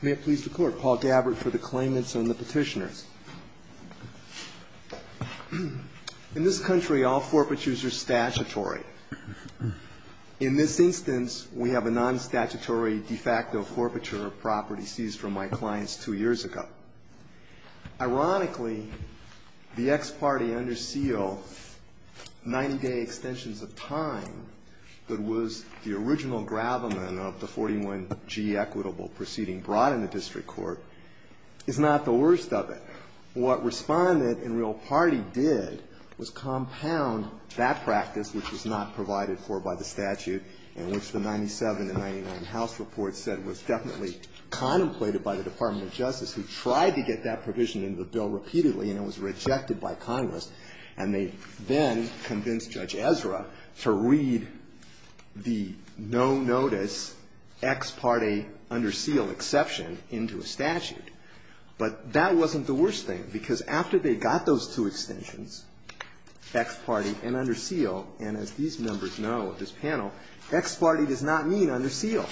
May it please the Court, Paul Gabbard for the claimants and the petitioners. In this country, all forfeitures are statutory. In this instance, we have a non-statutory de facto forfeiture of property seized from my clients two years ago. Ironically, the ex parte under seal 90-day extensions of time that was the original gravamen of the 41G equitable proceeding brought in the district court is not the worst of it. What Respondent and Real Party did was compound that practice, which was not provided for by the statute, and which the 97 and 99 House reports said was definitely contemplated by the Department of Justice, who tried to get that provision into the bill repeatedly and it was rejected by Congress. And they then convinced Judge Ezra to read the no-notice ex parte under seal exception into a statute. But that wasn't the worst thing, because after they got those two extensions, ex parte and under seal, and as these members know of this panel, ex parte does not mean under seal.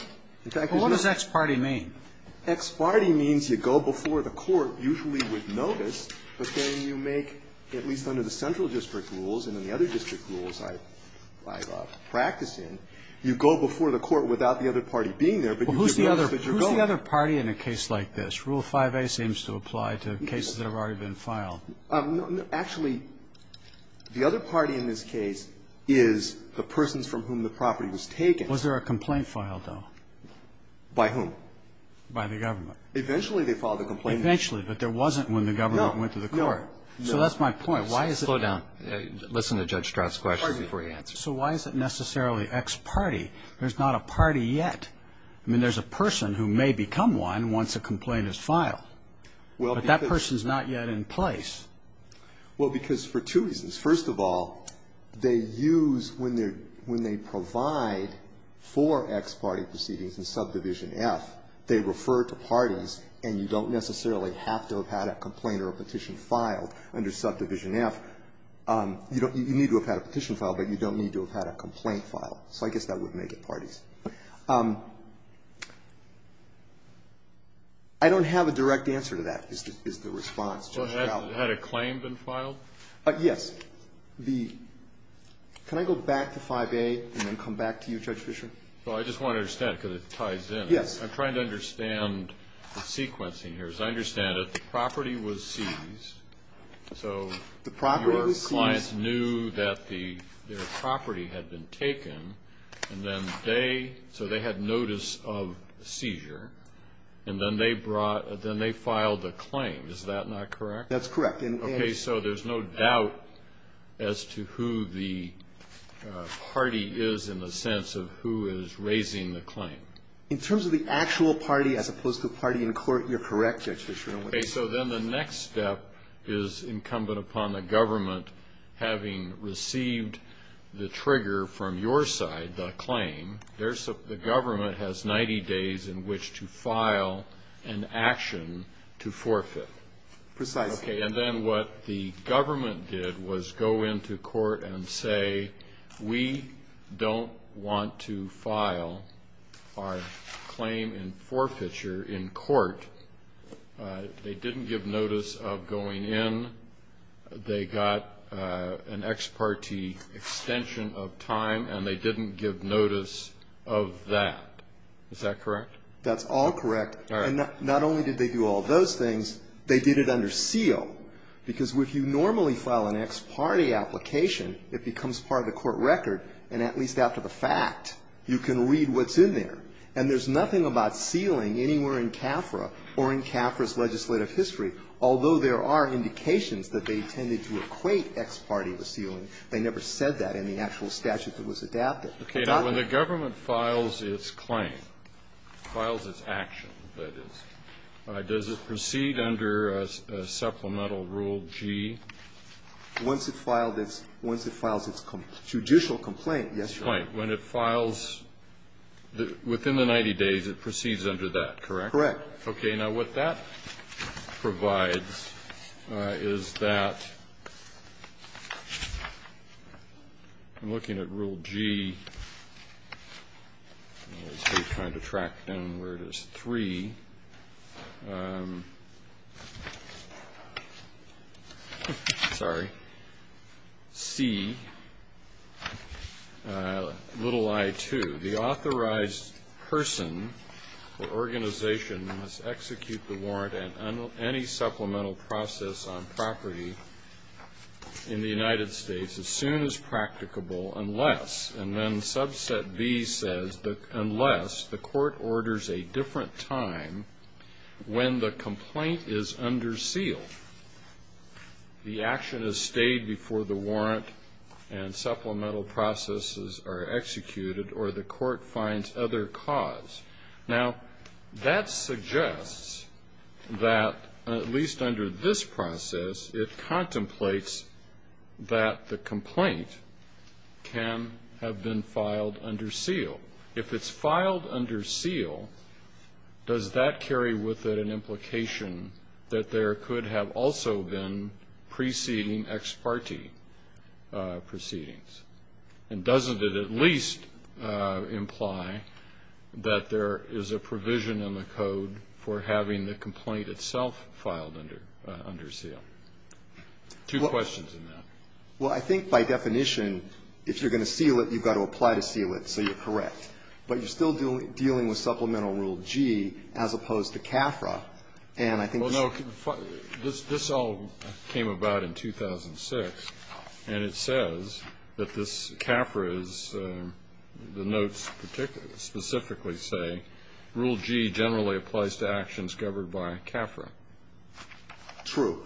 In fact, it does not. Well, what does ex parte mean? Ex parte means you go before the court usually with notice, but then you make, at least under the central district rules and then the other district rules I practice in, you go before the court without the other party being there, but you give notice that you're going. What's the other party in a case like this? Rule 5a seems to apply to cases that have already been filed. Actually, the other party in this case is the persons from whom the property was taken. Was there a complaint filed, though? By whom? By the government. Eventually they filed a complaint. Eventually, but there wasn't when the government went to the court. No, no. So that's my point. Slow down. Listen to Judge Stroud's question before you answer it. So why is it necessarily ex parte? There's not a party yet. I mean, there's a person who may become one once a complaint is filed. But that person is not yet in place. Well, because for two reasons. First of all, they use, when they provide for ex parte proceedings in subdivision F, they refer to parties, and you don't necessarily have to have had a complaint or a petition filed under subdivision F. You need to have had a petition filed, but you don't need to have had a complaint filed. So I guess that would make it parties. I don't have a direct answer to that, is the response. Had a claim been filed? Yes. Can I go back to 5A and then come back to you, Judge Fischer? Well, I just want to understand, because it ties in. Yes. I'm trying to understand the sequencing here. As I understand it, the property was seized. The property was seized. The clients knew that their property had been taken, and then they, so they had notice of seizure, and then they brought, then they filed a claim. Is that not correct? That's correct. Okay, so there's no doubt as to who the party is in the sense of who is raising the claim. In terms of the actual party as opposed to the party in court, you're correct, Judge Fischer. Okay, so then the next step is incumbent upon the government, having received the trigger from your side, the claim, the government has 90 days in which to file an action to forfeit. Precisely. Okay, and then what the government did was go into court and say, we don't want to file our claim in forfeiture in court. They didn't give notice of going in. They got an ex parte extension of time, and they didn't give notice of that. Is that correct? That's all correct. All right. Okay. Now, when the government files its claim, files its action, that is, does it proceed under a supplementary statute? Once it filed its judicial complaint, yes, Your Honor. Right. When it files within the 90 days, it proceeds under that, correct? Correct. Okay. Now, what that provides is that I'm looking at Rule G. I'm trying to track down where it is. Three. Sorry. C, little I-2. The authorized person or organization must execute the warrant and any supplemental process on property in the United States as soon as practicable unless, and then subset B says, unless the court orders a different time when the complaint is under seal. The action is stayed before the warrant and supplemental processes are executed or the court finds other cause. Now, that suggests that, at least under this process, it contemplates that the complaint can have been filed under seal. If it's filed under seal, does that carry with it an implication that there could have also been preceding ex parte proceedings? And doesn't it at least imply that there is a provision in the code for having the complaint itself filed under seal? Two questions on that. Well, I think by definition, if you're going to seal it, you've got to apply to seal it, so you're correct. But you're still dealing with supplemental Rule G as opposed to CAFRA. And I think most of the time this all came about in 2006. And it says that this CAFRA is, the notes specifically say, Rule G generally applies to actions governed by CAFRA. True.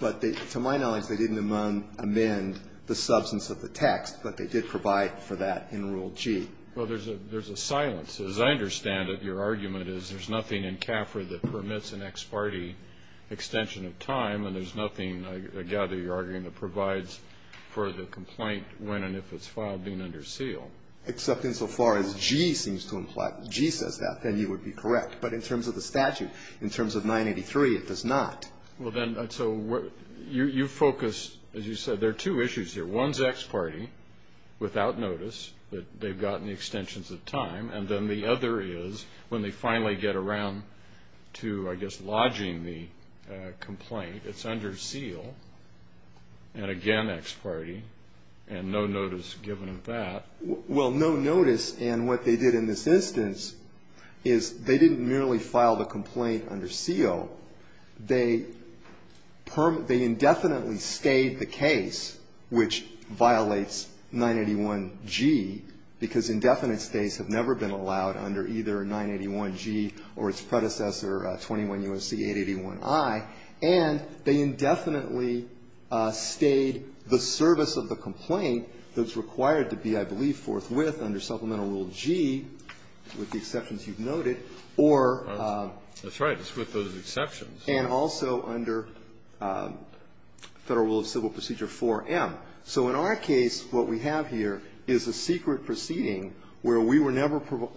But to my knowledge, they didn't amend the substance of the text, but they did provide for that in Rule G. Well, there's a silence. As I understand it, your argument is there's nothing in CAFRA that permits an ex parte extension of time, and there's nothing, I gather, you're arguing, that provides for the complaint when and if it's filed being under seal. Except insofar as G seems to imply, G says that, then you would be correct. But in terms of the statute, in terms of 983, it does not. Well, then, so you focus, as you said, there are two issues here. One is ex parte, without notice, that they've gotten the extensions of time, and then the other is when they finally get around to, I guess, lodging the complaint, it's under seal, and again ex parte, and no notice given of that. Well, no notice, and what they did in this instance is they didn't merely file the complaint under seal. They indefinitely stayed the case, which violates 981G, because indefinite stays have never been allowed under either 981G or its predecessor, 21 U.S.C. 881I, and they indefinitely stayed the service of the complaint that's required to be, I believe, forthwith under Supplemental Rule G, with the exceptions you've noted, or. That's right. With those exceptions. And also under Federal Rule of Civil Procedure 4M. So in our case, what we have here is a secret proceeding where we were never provoked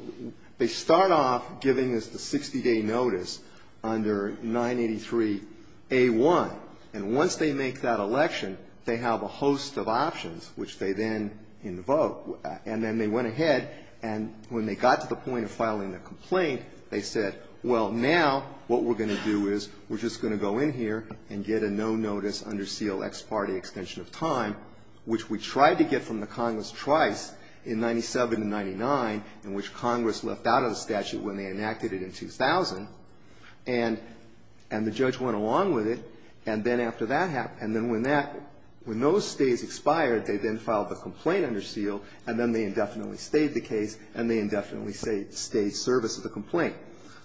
they start off giving us the 60-day notice under 983A1, and once they make that election, they have a host of options, which they then invoke. And then they went ahead, and when they got to the point of filing the complaint, they said, well, now what we're going to do is we're just going to go in here and get a no notice under seal ex parte extension of time, which we tried to get from the Congress twice, in 97 and 99, in which Congress left out of the statute when they enacted it in 2000, and the judge went along with it, and then after that happened when those stays expired, they then filed the complaint under seal, and then they indefinitely stayed the case, and they indefinitely stayed service of the complaint.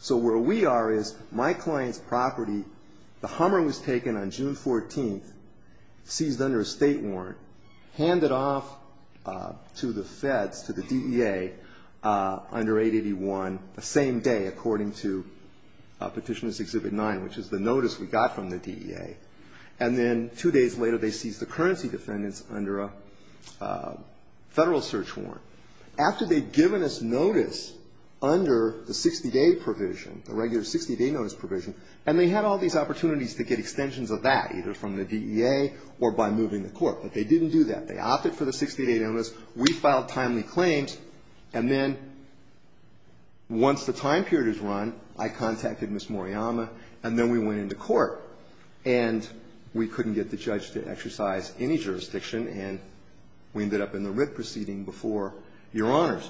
So where we are is my client's property, the Hummer was taken on June 14th, seized under a State warrant, handed off to the Feds, to the DEA, under 881, the same day, according to Petitioner's Exhibit 9, which is the notice we got from the DEA. And then two days later, they seized the currency defendants under a Federal search warrant. After they'd given us notice under the 60-day provision, the regular 60-day notice provision, and they had all these opportunities to get extensions of that, either from the DEA or by moving the court, but they didn't do that. They opted for the 60-day notice. We filed timely claims, and then once the time period is run, I contacted Ms. Hummer, and we couldn't get the judge to exercise any jurisdiction, and we ended up in the writ proceeding before Your Honors.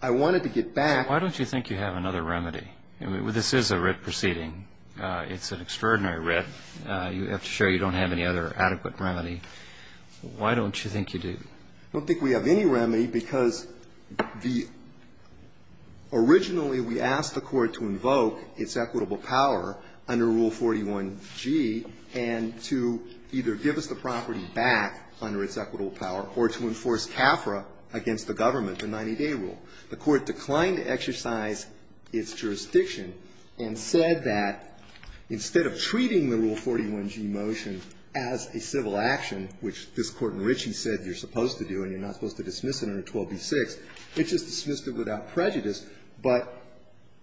I wanted to get back to you. Why don't you think you have another remedy? I mean, this is a writ proceeding. It's an extraordinary writ. You have to show you don't have any other adequate remedy. Why don't you think you do? I don't think we have any remedy, because the originally we asked the Court to invoke its equitable power under Rule 41g and to either give us the property back under its equitable power or to enforce CAFRA against the government, the 90-day rule. The Court declined to exercise its jurisdiction and said that instead of treating the Rule 41g motion as a civil action, which this Court in Ritchie said you're supposed to do and you're not supposed to dismiss it under 12b-6, it just dismissed it without prejudice. But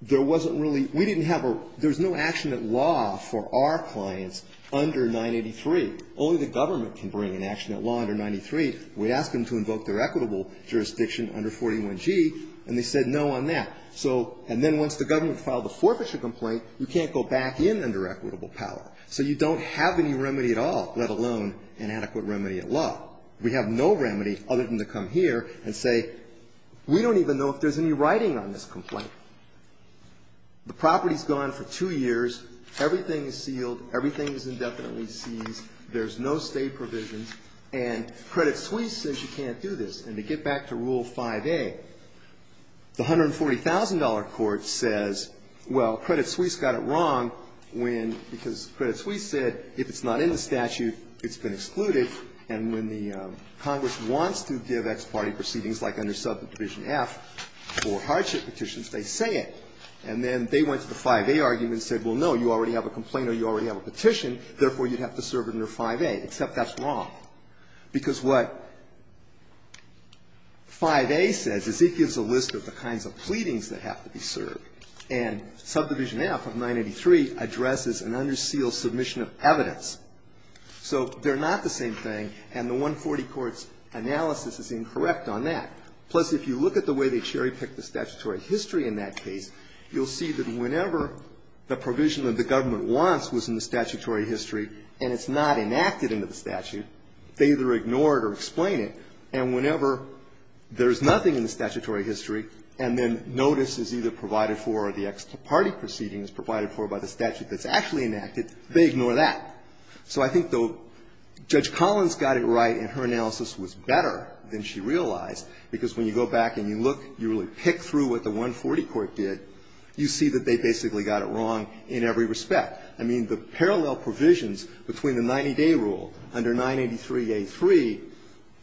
there wasn't really we didn't have a there's no action at law for our clients under 983. Only the government can bring an action at law under 93. We asked them to invoke their equitable jurisdiction under 41g, and they said no on that. So and then once the government filed a forfeiture complaint, you can't go back in under equitable power. So you don't have any remedy at all, let alone an adequate remedy at law. We have no remedy other than to come here and say we don't even know if there's any writing on this complaint. The property's gone for two years. Everything is sealed. Everything is indefinitely seized. There's no State provisions. And Credit Suisse says you can't do this. And to get back to Rule 5a, the $140,000 court says, well, Credit Suisse got it wrong when, because Credit Suisse said if it's not in the statute, it's been excluded, and when the Congress wants to give ex parte proceedings like under subdivision F for hardship petitions, they say it. And then they went to the 5a argument and said, well, no, you already have a complaint or you already have a petition. Therefore, you'd have to serve it under 5a, except that's wrong. Because what 5a says is it gives a list of the kinds of pleadings that have to be served. And subdivision F of 983 addresses an under seal submission of evidence. So they're not the same thing, and the 140 court's analysis is incorrect on that. Plus, if you look at the way they cherry-picked the statutory history in that case, you'll see that whenever the provision that the government wants was in the statutory history and it's not enacted into the statute, they either ignore it or explain it. And whenever there's nothing in the statutory history and then notice is either provided for or the ex parte proceeding is provided for by the statute that's actually enacted, they ignore that. So I think, though, Judge Collins got it right and her analysis was better than she realized, because when you go back and you look, you really pick through what the 140 court did, you see that they basically got it wrong in every respect. I mean, the parallel provisions between the 90-day rule under 983a3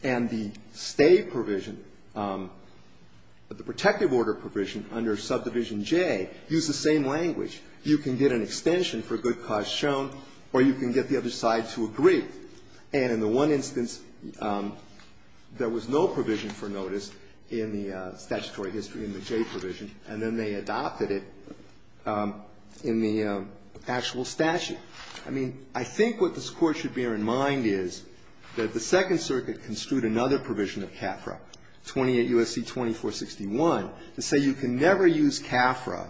and the stay provision, the protective order provision under subdivision J, use the same language. You can get an extension for a good cause shown or you can get the other side to agree. And in the one instance, there was no provision for notice in the statutory history in the J provision, and then they adopted it in the actual statute. I mean, I think what this Court should bear in mind is that the Second Circuit construed another provision of CAFRA, 28 U.S.C. 2461, to say you can never use CAFRA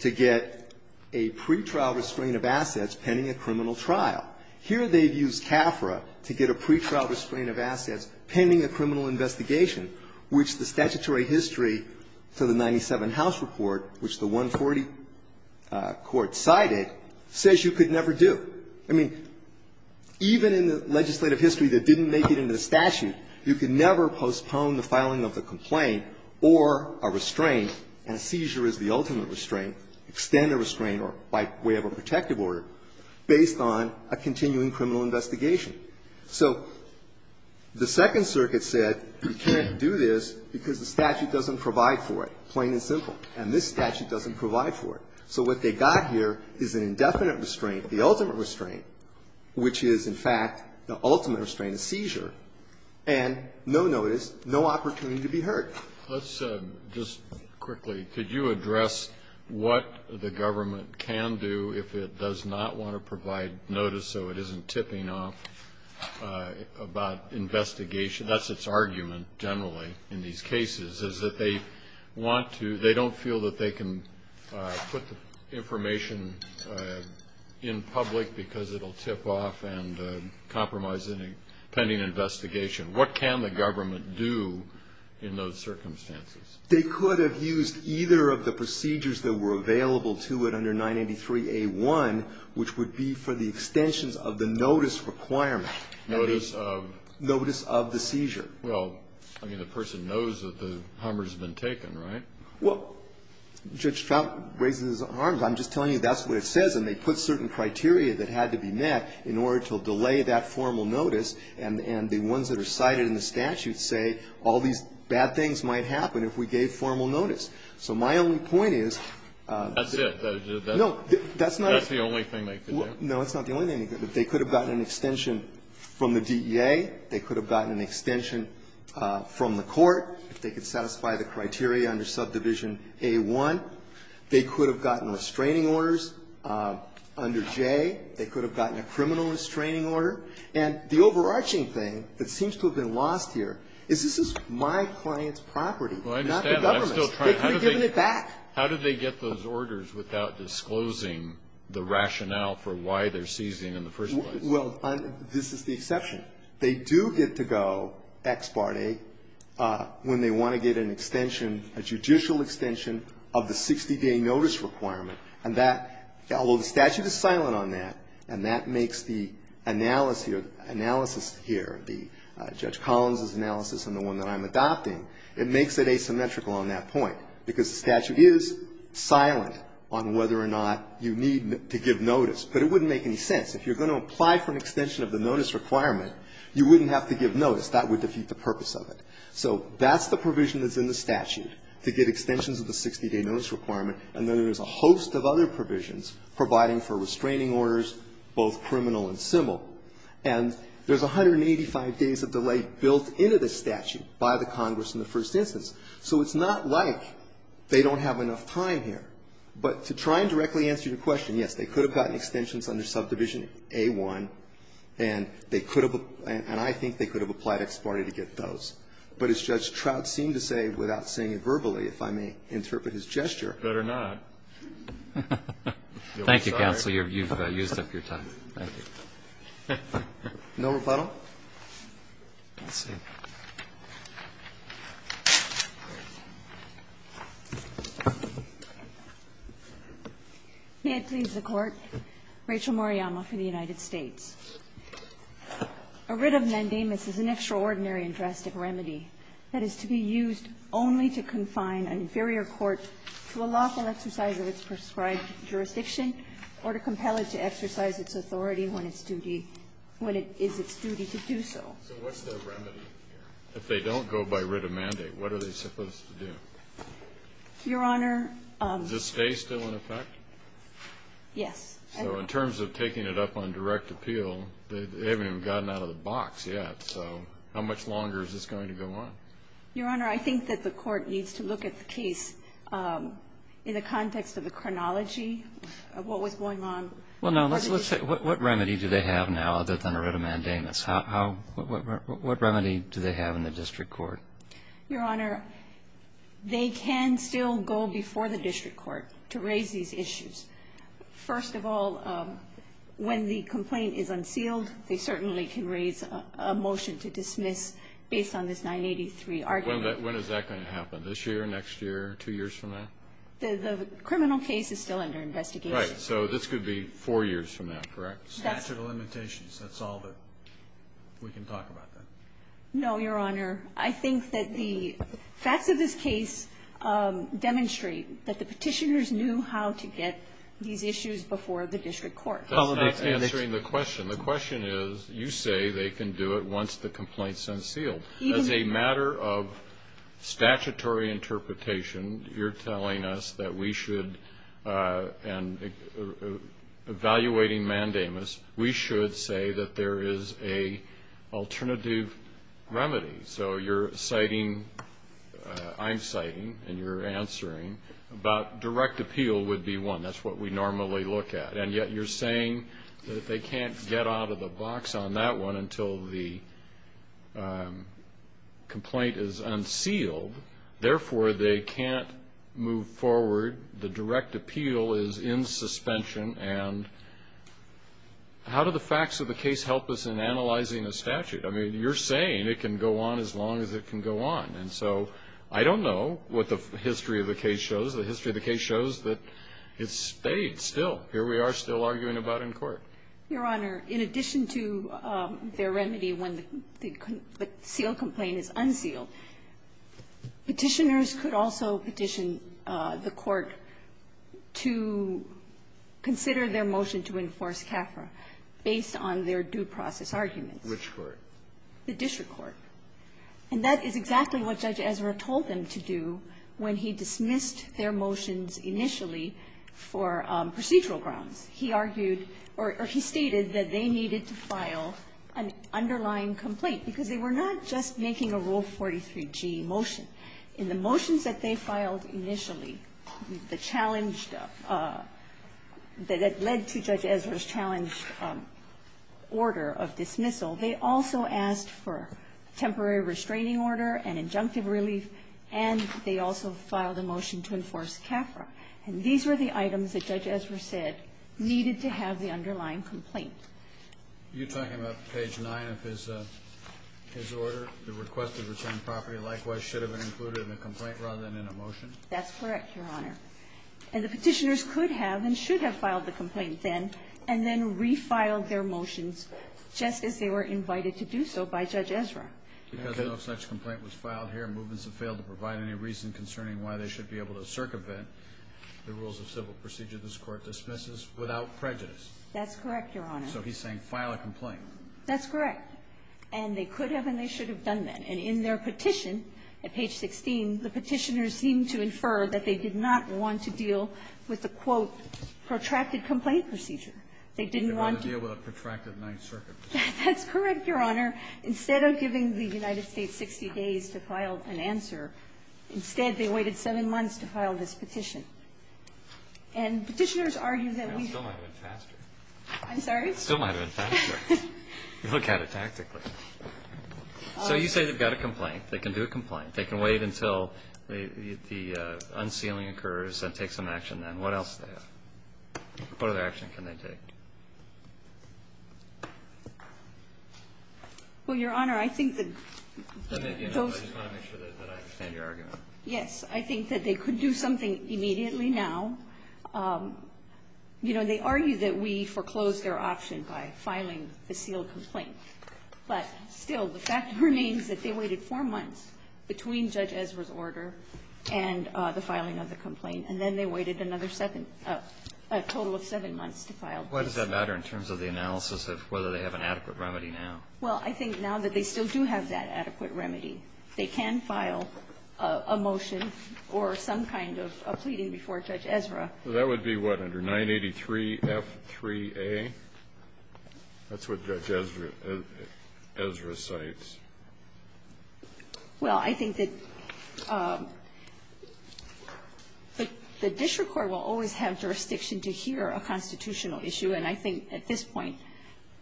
to get a pretrial restraint of assets pending a criminal trial. Here they've used CAFRA to get a pretrial restraint of assets pending a criminal investigation, which the statutory history to the 97 House report, which the 140 court cited, says you could never do. I mean, even in the legislative history that didn't make it into the statute, you could never postpone the filing of the complaint or a restraint, and a seizure is the ultimate restraint, extended restraint or by way of a protective order, based on a continuing criminal investigation. So the Second Circuit said you can't do this because the statute doesn't provide for it, plain and simple, and this statute doesn't provide for it. So what they got here is an indefinite restraint, the ultimate restraint, which is, in fact, the ultimate restraint, a seizure, and no notice, no opportunity to be heard. Let's just quickly, could you address what the government can do if it does not want to provide notice so it isn't tipping off about investigation? That's its argument, generally, in these cases, is that they want to, they don't feel that they can put the information in public because it'll tip off and compromise any pending investigation. What can the government do in those circumstances? They could have used either of the procedures that were available to it under 983a1, which would be for the extensions of the notice requirement. Notice of? Notice of the seizure. Well, I mean, the person knows that the harm has been taken, right? Well, Judge Trout raises his arms. I'm just telling you that's what it says, and they put certain criteria that had to be met in order to delay that formal notice, and the ones that are cited in the statute say, all these bad things might happen if we gave formal notice. So my only point is that's not the only thing they could do. No, that's not the only thing they could do. They could have gotten an extension from the DEA. They could have gotten an extension from the court. They could satisfy the criteria under subdivision A1. They could have gotten restraining orders under J. They could have gotten a criminal restraining order. And the overarching thing that seems to have been lost here is this is my client's property, not the government's. They could have given it back. How did they get those orders without disclosing the rationale for why they're seizing in the first place? Well, this is the exception. They do get to go ex parte when they want to get an extension, a judicial extension of the 60-day notice requirement. And that, although the statute is silent on that, and that makes the analysis here, the analysis here, the Judge Collins' analysis and the one that I'm adopting, it makes it asymmetrical on that point, because the statute is silent on whether or not you need to give notice. But it wouldn't make any sense. If you're going to apply for an extension of the notice requirement, you wouldn't have to give notice. That would defeat the purpose of it. So that's the provision that's in the statute, to get extensions of the 60-day notice requirement, and then there's a host of other provisions providing for restraining orders, both criminal and civil. And there's 185 days of delay built into the statute by the Congress in the first instance. So it's not like they don't have enough time here. But to try and directly answer your question, yes, they could have gotten extensions under subdivision A-1, and they could have been – and I think they could have applied ex parte to get those. But as Judge Trout seemed to say, without saying it verbally, if I may interpret his gesture, better not. Roberts, thank you, counsel, you've used up your time. Thank you. No rebuttal? May it please the Court. Rachel Moriyama for the United States. A writ of nondamus is an extraordinary and drastic remedy that is to be used only to confine an inferior court to a lawful exercise of its prescribed jurisdiction or to compel it to exercise its authority when it's duty – when it is its duty to do so. So what's the remedy here? If they don't go by writ of mandate, what are they supposed to do? Your Honor – Is the stay still in effect? Yes. So in terms of taking it up on direct appeal, they haven't even gotten out of the box yet. So how much longer is this going to go on? Your Honor, I think that the Court needs to look at the case in the context of the chronology of what was going on. Well, now, let's say – what remedy do they have now other than a writ of mandamus? How – what remedy do they have in the district court? Your Honor, they can still go before the district court to raise these issues. First of all, when the complaint is unsealed, they certainly can raise a motion to When is that going to happen? This year, next year, two years from now? The criminal case is still under investigation. Right. So this could be four years from now, correct? Statute of limitations. That's all that we can talk about. No, Your Honor. I think that the facts of this case demonstrate that the petitioners knew how to get these issues before the district court. That's not answering the question. The question is, you say they can do it once the complaint is unsealed. As a matter of statutory interpretation, you're telling us that we should – and evaluating mandamus, we should say that there is a alternative remedy. So you're citing – I'm citing and you're answering about direct appeal would be one. That's what we normally look at. And yet you're saying that they can't get out of the box on that one until the complaint is unsealed. Therefore, they can't move forward. The direct appeal is in suspension. And how do the facts of the case help us in analyzing the statute? I mean, you're saying it can go on as long as it can go on. And so I don't know what the history of the case shows. The history of the case shows that it's stayed still. Here we are still arguing about in court. Your Honor, in addition to their remedy when the sealed complaint is unsealed, Petitioners could also petition the court to consider their motion to enforce CAFRA based on their due process arguments. Which court? The district court. And that is exactly what Judge Ezra told them to do when he dismissed their motions initially for procedural grounds. He argued or he stated that they needed to file an underlying complaint because they were not just making a Rule 43G motion. In the motions that they filed initially, the challenge that led to Judge Ezra's challenge order of dismissal, they also asked for temporary restraining order and injunctive relief, and they also filed a motion to enforce CAFRA. And these were the items that Judge Ezra said needed to have the underlying complaint. You're talking about page 9 of his order, the request to return property likewise should have been included in the complaint rather than in a motion? That's correct, Your Honor. And the Petitioners could have and should have filed the complaint then, and then refiled their motions just as they were invited to do so by Judge Ezra. Because no such complaint was filed here, movements have failed to provide any reason concerning why they should be able to circumvent the rules of civil procedure this Court dismisses without prejudice. That's correct, Your Honor. So he's saying file a complaint. That's correct. And they could have and they should have done that. And in their petition at page 16, the Petitioners seem to infer that they did not want to deal with the, quote, protracted complaint procedure. They didn't want to deal with a protracted Ninth Circuit. That's correct, Your Honor. Instead of giving the United States 60 days to file an answer, instead, they waited seven months to file this petition. And Petitioners argue that we've... It still might have been faster. I'm sorry? It still might have been faster. You look at it tactically. So you say they've got a complaint. They can do a complaint. They can wait until the unsealing occurs and take some action then. What else do they have? What other action can they take? Well, Your Honor, I think that those... I just want to make sure that I understand your argument. Yes. I think that they could do something immediately now. You know, they argue that we foreclosed their option by filing the sealed complaint. But still, the fact remains that they waited four months between Judge Ezra's order and the filing of the complaint. And then they waited another seven, a total of seven months to file the complaint. Why does that matter in terms of the analysis of whether they have an adequate remedy now? Well, I think now that they still do have that adequate remedy, they can file a motion or some kind of a pleading before Judge Ezra. That would be what, under 983F3A? That's what Judge Ezra cites. Well, I think that the district court will always have jurisdiction to hear a constitutional issue. And I think at this point,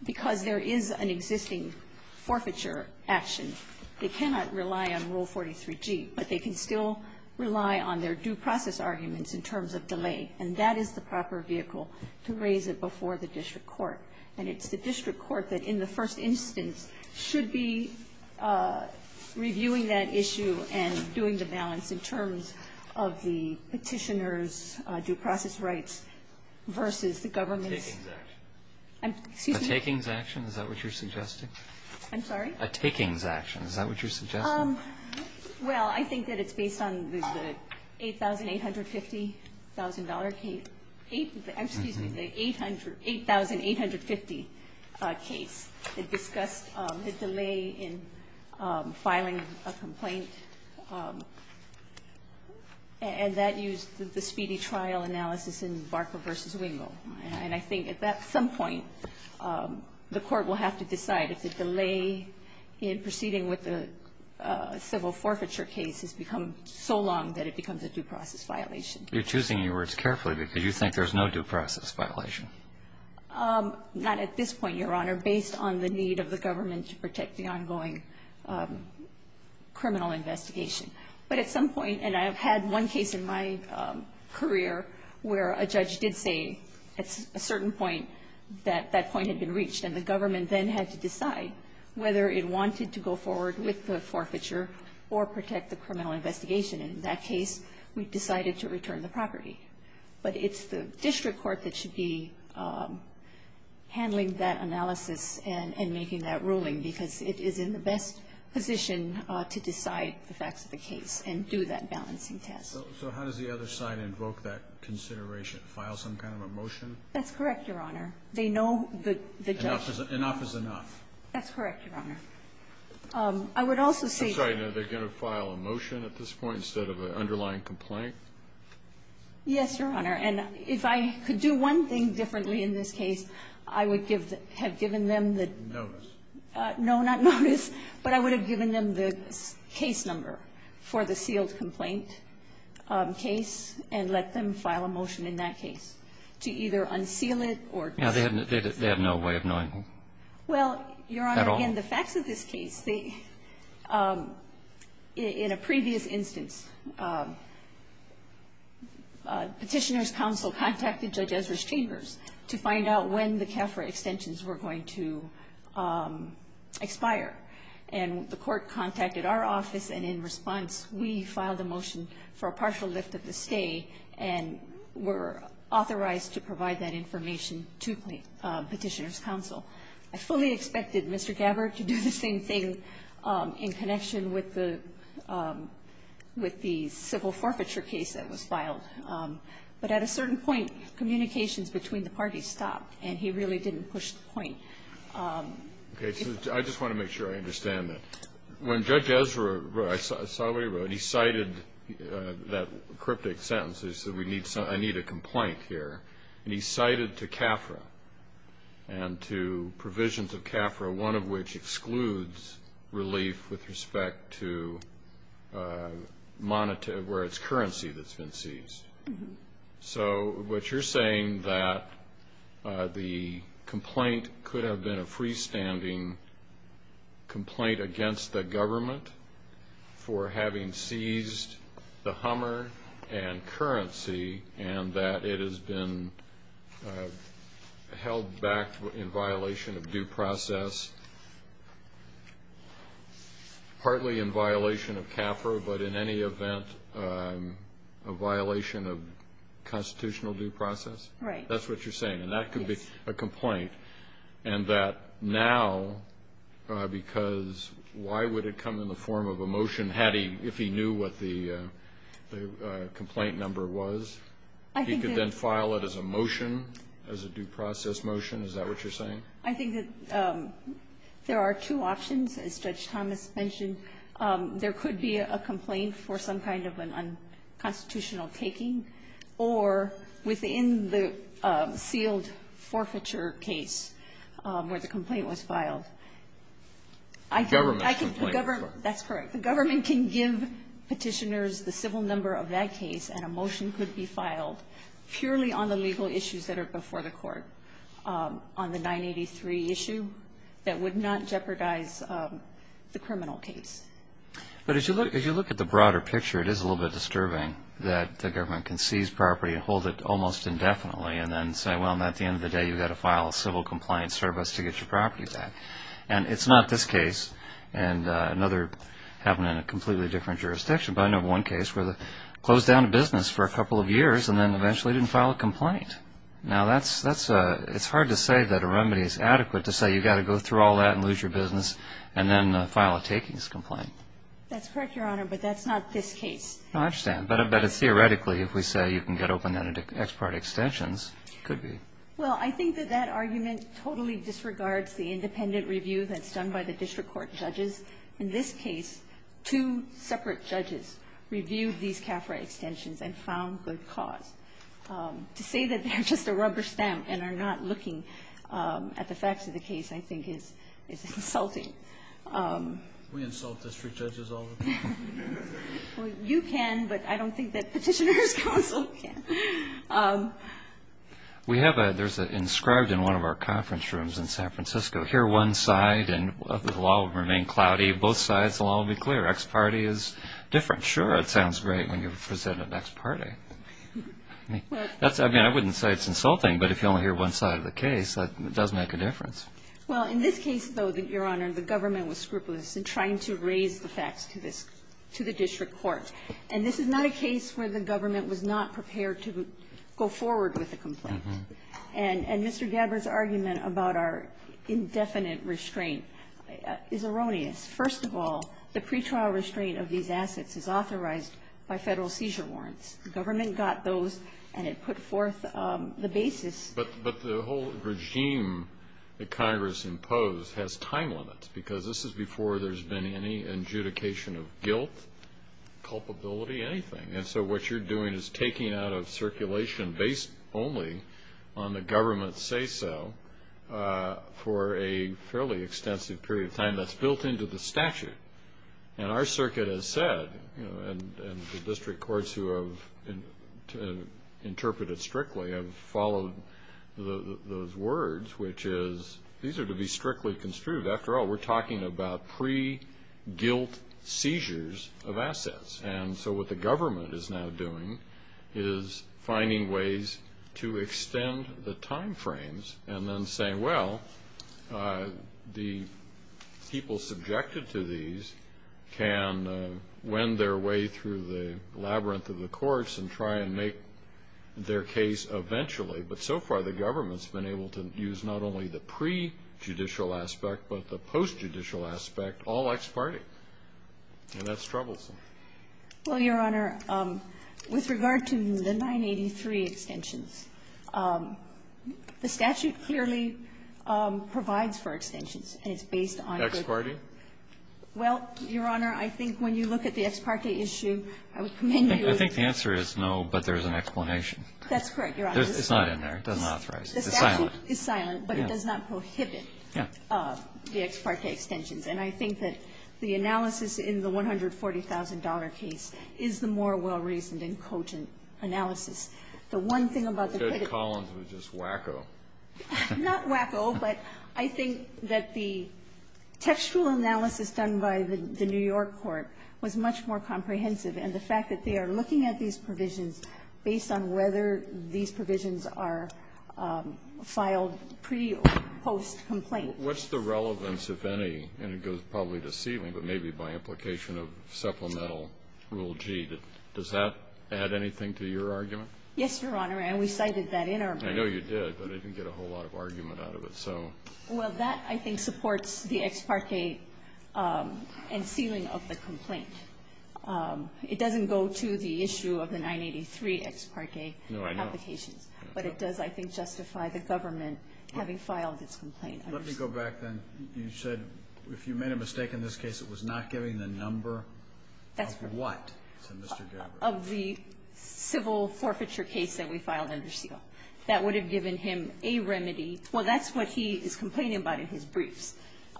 because there is an existing forfeiture action, they cannot rely on Rule 43G. But they can still rely on their due process arguments in terms of delay. And that is the proper vehicle to raise it before the district court. And it's the district court that, in the first instance, should be reviewing that issue and doing the balance in terms of the petitioner's due process rights versus the government's. Excuse me? A takings action? Is that what you're suggesting? I'm sorry? A takings action. Is that what you're suggesting? Well, I think that it's based on the $8,850,000 case. Excuse me, the $8,850,000 case that discussed the delay in filing a complaint. And that used the speedy trial analysis in Barker v. Wingo. And I think at some point, the court will have to decide if the delay in proceeding with the civil forfeiture case has become so long that it becomes a due process violation. You're choosing your words carefully because you think there's no due process violation. Not at this point, Your Honor. Based on the need of the government to protect the ongoing criminal investigation. But at some point, and I have had one case in my career where a judge did say at a certain point that that point had been reached and the government then had to decide whether it wanted to go forward with the forfeiture or protect the criminal investigation. And in that case, we decided to return the property. But it's the district court that should be handling that analysis and making that case and do that balancing test. So how does the other side invoke that consideration, file some kind of a motion? That's correct, Your Honor. They know the judge. Enough is enough. That's correct, Your Honor. I would also say. I'm sorry. Are they going to file a motion at this point instead of an underlying complaint? Yes, Your Honor. And if I could do one thing differently in this case, I would have given them the. Notice. No, not notice. But I would have given them the case number for the sealed complaint case and let them file a motion in that case to either unseal it or. No, they have no way of knowing. Well, Your Honor. At all. Again, the facts of this case. In a previous instance, Petitioner's counsel contacted Judge Ezra's chambers to find out when the CAFRA extensions were going to expire. And the court contacted our office and in response, we filed a motion for a partial lift of the stay and were authorized to provide that information to Petitioner's counsel. I fully expected Mr. Gabbard to do the same thing in connection with the with the civil forfeiture case that was filed. But at a certain point, communications between the parties stopped and he really didn't push the point. Okay. So I just want to make sure I understand that. When Judge Ezra, I saw what he wrote, he cited that cryptic sentence. He said, I need a complaint here. And he cited to CAFRA and to provisions of CAFRA, one of which excludes relief with respect to where it's currency that's been seized. So what you're saying that the complaint could have been a freestanding complaint against the government for having seized the Hummer and currency and that it has been held back in violation of due process, partly in violation of CAFRA, but in any event, a violation of constitutional due process? Right. That's what you're saying? Yes. And that could be a complaint. And that now, because why would it come in the form of a motion had he, if he knew what the complaint number was, he could then file it as a motion, as a due process motion? Is that what you're saying? I think that there are two options, as Judge Thomas mentioned. There could be a complaint for some kind of an unconstitutional taking or within the sealed forfeiture case where the complaint was filed. Government complaint. That's correct. The government can give petitioners the civil number of that case and a motion could be filed purely on the legal issues that are before the court. On the 983 issue, that would not jeopardize the criminal case. But as you look at the broader picture, it is a little bit disturbing that the government can seize property and hold it almost indefinitely and then say, well, at the end of the day you've got to file a civil compliance service to get your property back. And it's not this case. And another happened in a completely different jurisdiction. But I know of one case where they closed down a business for a couple of years and then eventually didn't file a complaint. Now, that's, it's hard to say that a remedy is adequate to say you've got to go through all that and lose your business and then file a takings complaint. That's correct, Your Honor, but that's not this case. No, I understand. But theoretically, if we say you can get open-ended ex parte extensions, it could be. Well, I think that that argument totally disregards the independent review that's done by the district court judges. In this case, two separate judges reviewed these CAFRA extensions and found good cause. To say that they're just a rubber stamp and are not looking at the facts of the case, I think, is insulting. Can we insult district judges all the time? Well, you can, but I don't think that Petitioner's Counsel can. We have a, there's an inscribed in one of our conference rooms in San Francisco, hear one side and the law will remain cloudy. Both sides will all be clear. Ex parte is different. Sure, it sounds great when you present an ex parte. That's, I mean, I wouldn't say it's insulting, but if you only hear one side of the case, that does make a difference. Well, in this case, though, Your Honor, the government was scrupulous in trying to raise the facts to this, to the district court. And this is not a case where the government was not prepared to go forward with a complaint. And Mr. Gabbard's argument about our indefinite restraint is erroneous. First of all, the pretrial restraint of these assets is authorized by federal seizure warrants. The government got those and it put forth the basis. But the whole regime that Congress imposed has time limits, because this is before there's been any adjudication of guilt, culpability, anything. And so what you're doing is taking out of circulation based only on the government's say-so for a fairly extensive period of time that's built into the statute. And our circuit has said, and the district courts who have interpreted strictly have followed those words, which is, these are to be strictly construed. After all, we're talking about pre-guilt seizures of assets. And so what the government is now doing is finding ways to extend the time frames and then saying, well, the people subjected to these can wend their way through the labyrinth of the courts and try and make their case eventually. But so far the government's been able to use not only the pre-judicial aspect, but the adjudication aspect. And that's troublesome. Well, Your Honor, with regard to the 983 extensions, the statute clearly provides for extensions, and it's based on good law. Ex parte? Well, Your Honor, I think when you look at the ex parte issue, I would commend you with the answer. I think the answer is no, but there's an explanation. That's correct, Your Honor. It's not in there. It doesn't authorize it. It's silent. The statute is silent, but it does not prohibit the ex parte extensions. And I think that the analysis in the $140,000 case is the more well-reasoned and cotent analysis. The one thing about the credit columns was just wacko. Not wacko, but I think that the textual analysis done by the New York court was much more comprehensive, and the fact that they are looking at these provisions based on whether these provisions are filed pre or post-complaint. What's the relevance, if any, and it goes probably to sealing, but maybe by implication of supplemental Rule G, does that add anything to your argument? Yes, Your Honor, and we cited that in our plan. I know you did, but I didn't get a whole lot of argument out of it, so. Well, that, I think, supports the ex parte and sealing of the complaint. It doesn't go to the issue of the 983 ex parte applications. No, I know. But it does, I think, justify the government having filed its complaint. Let me go back, then. You said, if you made a mistake in this case, it was not giving the number of what to Mr. Gabbard? Of the civil forfeiture case that we filed under seal. That would have given him a remedy. Well, that's what he is complaining about in his briefs.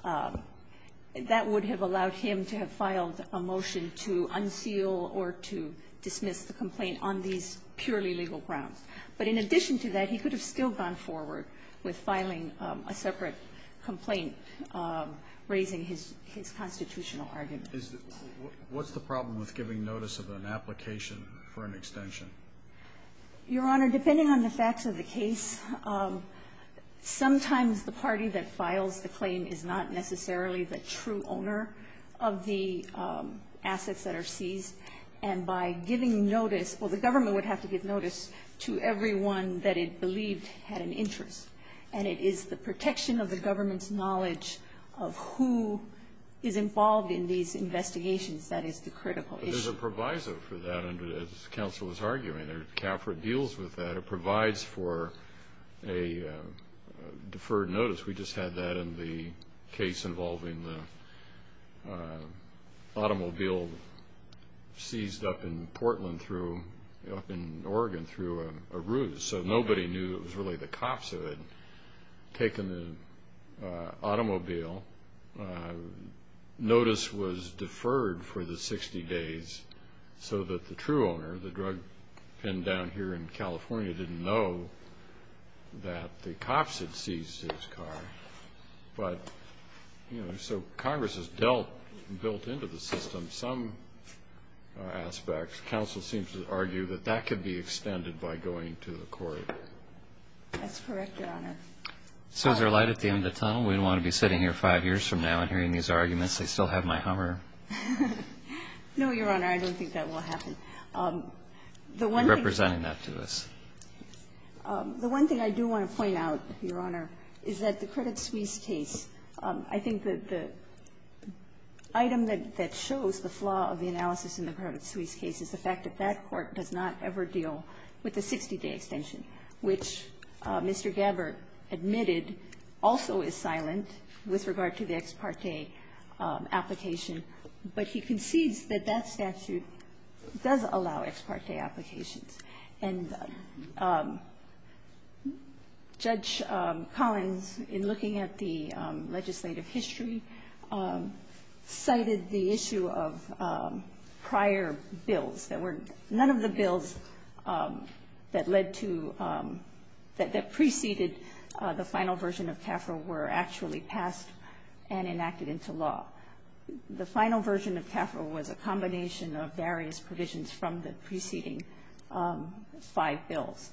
That would have allowed him to have filed a motion to unseal or to dismiss the complaint on these purely legal grounds. But in addition to that, he could have still gone forward with filing a separate complaint, raising his constitutional argument. What's the problem with giving notice of an application for an extension? Your Honor, depending on the facts of the case, sometimes the party that files the claim is not necessarily the true owner of the assets that are seized, and by giving notice, well, the government would have to give notice to everyone that it believed had an interest. And it is the protection of the government's knowledge of who is involved in these investigations that is the critical issue. But there's a proviso for that, as counsel was arguing. CAFRA deals with that. It provides for a deferred notice. We just had that in the case involving the automobile seized up in Portland up in Oregon through a ruse. So nobody knew it was really the cops who had taken the automobile. Notice was deferred for the 60 days so that the true owner, the drug pin down here in California, didn't know that the cops had seized his car. But, you know, so Congress has built into the system some aspects. Counsel seems to argue that that could be extended by going to the court. That's correct, Your Honor. So is there light at the end of the tunnel? We don't want to be sitting here five years from now and hearing these arguments. I still have my hammer. No, Your Honor, I don't think that will happen. You're representing that to us. The one thing I do want to point out, Your Honor, is that the Credit Suisse case, I think the item that shows the flaw of the analysis in the Credit Suisse case is the fact that that court does not ever deal with the 60-day extension, which Mr. Gabbard admitted also is silent with regard to the ex parte application. But he concedes that that statute does allow ex parte applications. And Judge Collins, in looking at the legislative history, cited the issue of prior bills that were none of the bills that led to that preceded the final version of CAFRA were actually passed and enacted into law. The final version of CAFRA was a combination of various provisions from the preceding five bills.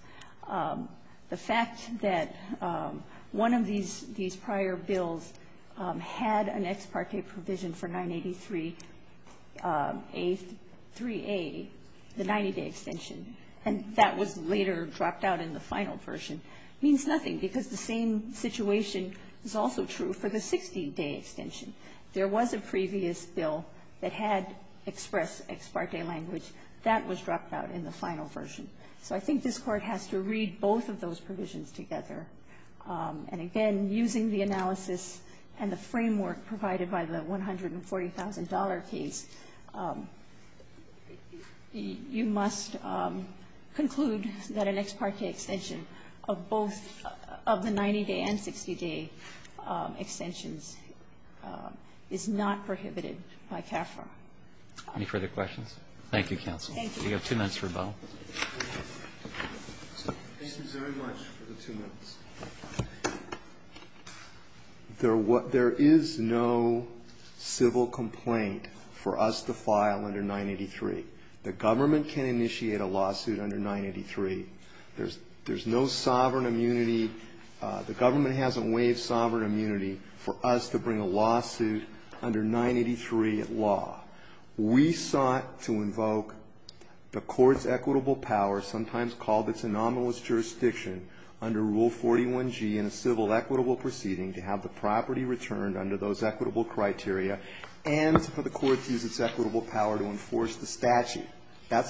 The fact that one of these prior bills had an ex parte provision for 983A, 3A, the 90-day extension, and that was later dropped out in the final version, means nothing because the same situation is also true for the 60-day extension. There was a previous bill that had express ex parte language. That was dropped out in the final version. So I think this Court has to read both of those provisions together. And again, using the analysis and the framework provided by the $140,000 case, you must conclude that an ex parte extension of both of the 90-day and 60-day extensions is not prohibited by CAFRA. Any further questions? Thank you, counsel. Thank you. You have two minutes for rebuttal. Thank you very much for the two minutes. There is no civil complaint for us to file under 983. The government can initiate a lawsuit under 983. There's no sovereign immunity. The government hasn't waived sovereign immunity for us to bring a lawsuit under 983 at law. We sought to invoke the Court's equitable power, sometimes called its anomalous jurisdiction, under Rule 41G in a civil equitable proceeding to have the property returned under those That's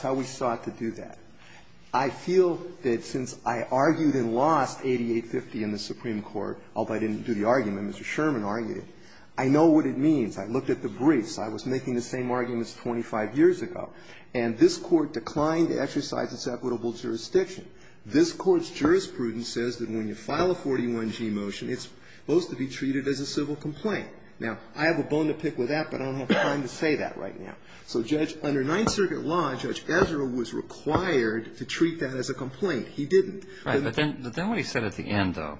how we sought to do that. I feel that since I argued and lost 8850 in the Supreme Court, although I didn't do the argument, Mr. Sherman argued it, I know what it means. I looked at the briefs. I was making the same arguments 25 years ago. And this Court declined to exercise its equitable jurisdiction. This Court's jurisprudence says that when you file a 41G motion, it's supposed to be treated as a civil complaint. Now, I have a bone to pick with that, but I don't have time to say that right now. So under Ninth Circuit law, Judge Ezra was required to treat that as a complaint. He didn't. Right, but then what he said at the end, though,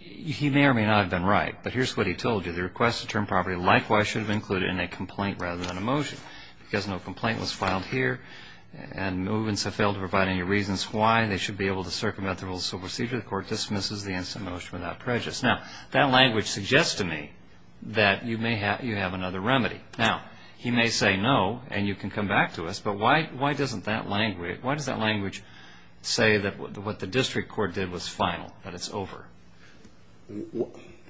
he may or may not have been right. But here's what he told you. The requested term property likewise should have been included in a complaint rather than a motion. Because no complaint was filed here, and movements have failed to provide any reasons why, they should be able to circumvent the rules of civil procedure. The Court dismisses the instant motion without prejudice. Now, that language suggests to me that you have another remedy. Now, he may say no, and you can come back to us. But why does that language say that what the District Court did was final, that it's over?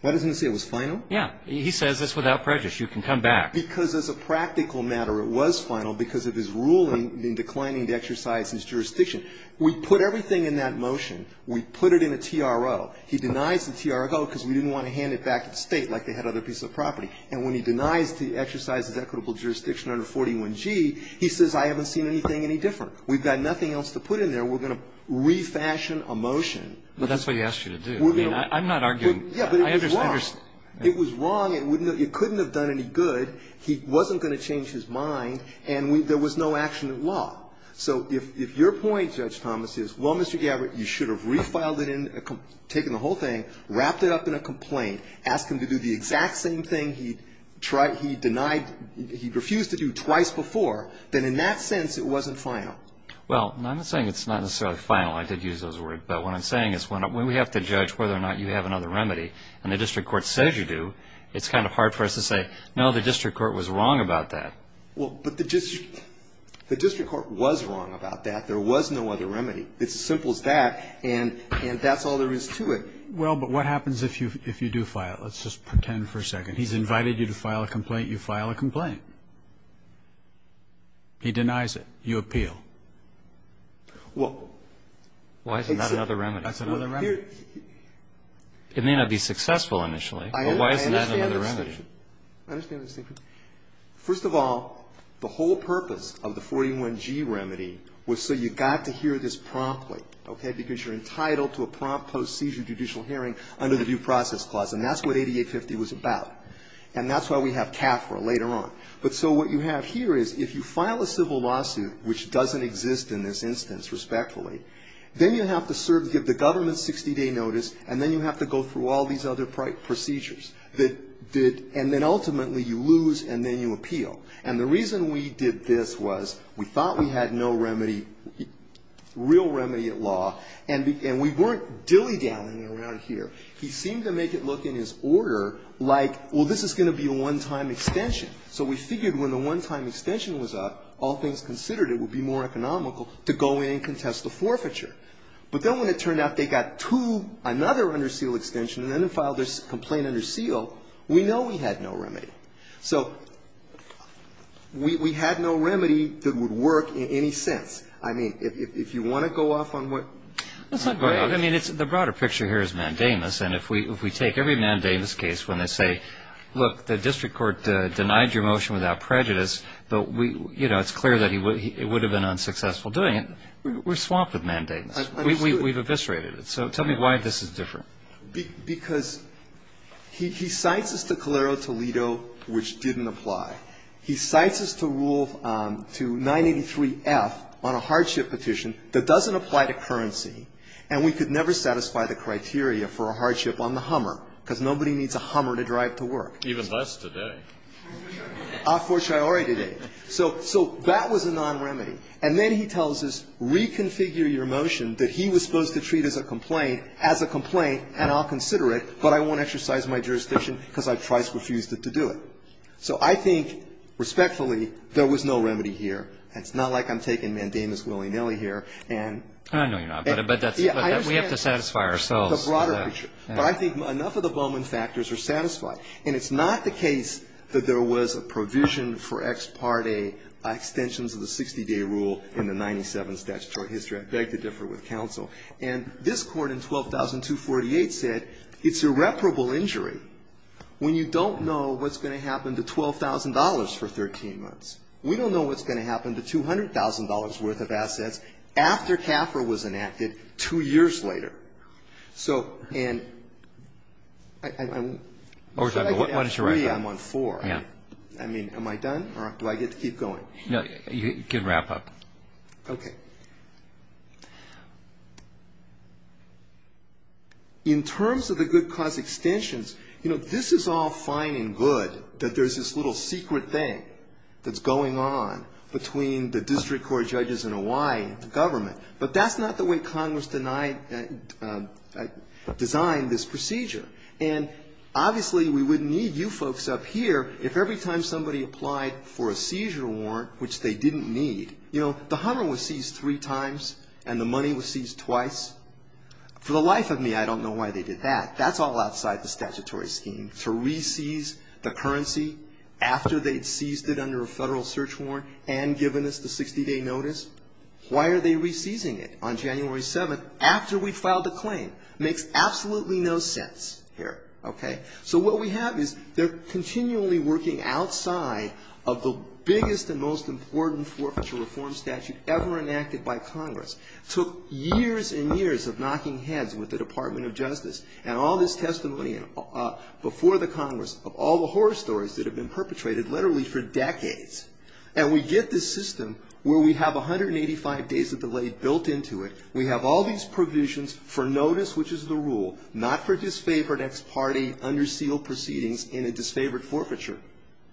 Why doesn't it say it was final? Yeah. He says it's without prejudice. You can come back. Because as a practical matter, it was final because of his ruling in declining to exercise his jurisdiction. We put everything in that motion. We put it in a TRO. He denies the TRO because we didn't want to hand it back at State like they had other pieces of property. And when he denies to exercise his equitable jurisdiction under 41G, he says I haven't seen anything any different. We've got nothing else to put in there. We're going to refashion a motion. But that's what he asked you to do. I'm not arguing. Yeah, but it was wrong. It was wrong. It couldn't have done any good. He wasn't going to change his mind, and there was no action at law. So if your point, Judge Thomas, is, well, Mr. Gabbard, you should have refiled it in, taken the whole thing, wrapped it up in a complaint, asked him to do the exact same thing he denied, he refused to do twice before, then in that sense it wasn't final. Well, I'm not saying it's not necessarily final. I did use those words. But what I'm saying is when we have to judge whether or not you have another remedy, and the district court says you do, it's kind of hard for us to say, no, the district court was wrong about that. Well, but the district court was wrong about that. There was no other remedy. It's as simple as that, and that's all there is to it. Well, but what happens if you do file it? Let's just pretend for a second. He's invited you to file a complaint. You file a complaint. He denies it. You appeal. Well, it's the other remedy. It may not be successful initially, but why isn't that another remedy? I understand the distinction. First of all, the whole purpose of the 41G remedy was so you got to hear this promptly, okay, because you're entitled to a prompt post-seizure judicial hearing under the Due Process Clause, and that's what 8850 was about. And that's why we have CAFRA later on. But so what you have here is if you file a civil lawsuit, which doesn't exist in this instance, respectfully, then you have to serve, give the government 60-day notice, and then you have to go through all these other procedures. And then ultimately you lose, and then you appeal. And the reason we did this was we thought we had no remedy, real remedy at law, and we weren't dilly-dallying around here. He seemed to make it look in his order like, well, this is going to be a one-time extension. So we figured when the one-time extension was up, all things considered, it would be more economical to go in and contest the forfeiture. But then when it turned out they got two, another under seal extension, and then they filed this complaint under seal, we know we had no remedy. So we had no remedy that would work in any sense. I mean, if you want to go off on what? I mean, the broader picture here is mandamus, and if we take every mandamus case when they say, look, the district court denied your motion without prejudice, but we, you know, it's clear that it would have been unsuccessful doing it. We're swamped with mandamus. Absolutely. We've eviscerated it. So tell me why this is different. Because he cites us to Calero, Toledo, which didn't apply. He cites us to rule to 983F on a hardship petition that doesn't apply to currency, and we could never satisfy the criteria for a hardship on the Hummer, because nobody needs a Hummer to drive to work. Even less today. A fortiori today. So that was a non-remedy. And then he tells us, reconfigure your motion that he was supposed to treat as a complaint, as a complaint, and I'll consider it, but I won't exercise my jurisdiction because I've twice refused it to do it. So I think, respectfully, there was no remedy here. It's not like I'm taking mandamus willy-nilly here and we have to satisfy ourselves. But I think enough of the Bowman factors are satisfied. And it's not the case that there was a provision for ex parte extensions of the 60-day rule in the 97 statutory history. I beg to differ with counsel. And this Court in 12248 said it's irreparable injury when you don't know what's going to happen to $12,000 for 13 months. We don't know what's going to happen to $200,000 worth of assets after CAFRA was enacted two years later. So, and, I'm, should I get on three? I'm on four. I mean, am I done or do I get to keep going? You can wrap up. Okay. In terms of the good cause extensions, you know, this is all fine and good that there's this little secret thing that's going on between the district court judges and Hawaii government. But that's not the way Congress denied, designed this procedure. And obviously, we wouldn't need you folks up here if every time somebody applied for a seizure warrant, which they didn't need, you know, the Hummer was seized three times and the money was seized twice. For the life of me, I don't know why they did that. That's all outside the statutory scheme, to re-seize the currency after they'd seized it under a federal search warrant and given us the 60-day notice. Why are they re-seizing it on January 7th after we filed the claim? Makes absolutely no sense here. Okay. So, what we have is they're continually working outside of the biggest and most important forfeiture reform statute ever enacted by Congress. Took years and years of knocking heads with the Department of Justice and all this testimony before the Congress of all the horror stories that have been perpetrated literally for decades. And we get this system where we have 185 days of delay built into it. We have all these provisions for notice, which is the rule, not for disfavored ex parte, under seal proceedings in a disfavored forfeiture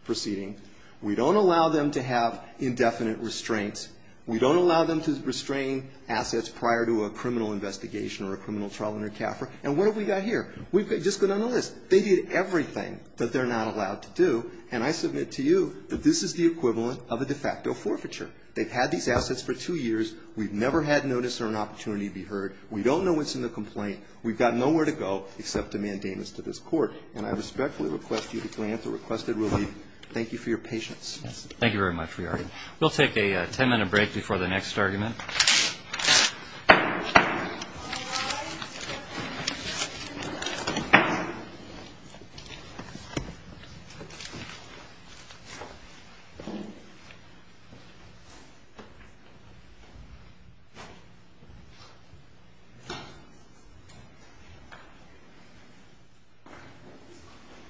proceeding. We don't allow them to have indefinite restraints. We don't allow them to restrain assets prior to a criminal investigation or a criminal trial under CAFRA. And what have we got here? We've just gone down the list. They did everything that they're not allowed to do. And I submit to you that this is the equivalent of a de facto forfeiture. They've had these assets for two years. We've never had notice or an opportunity to be heard. We don't know what's in the complaint. We've got nowhere to go except to mandate this to this court. And I respectfully request you to grant the requested relief. Thank you for your patience. Thank you very much, Riarty. We'll take a ten-minute break before the next argument. Thank you.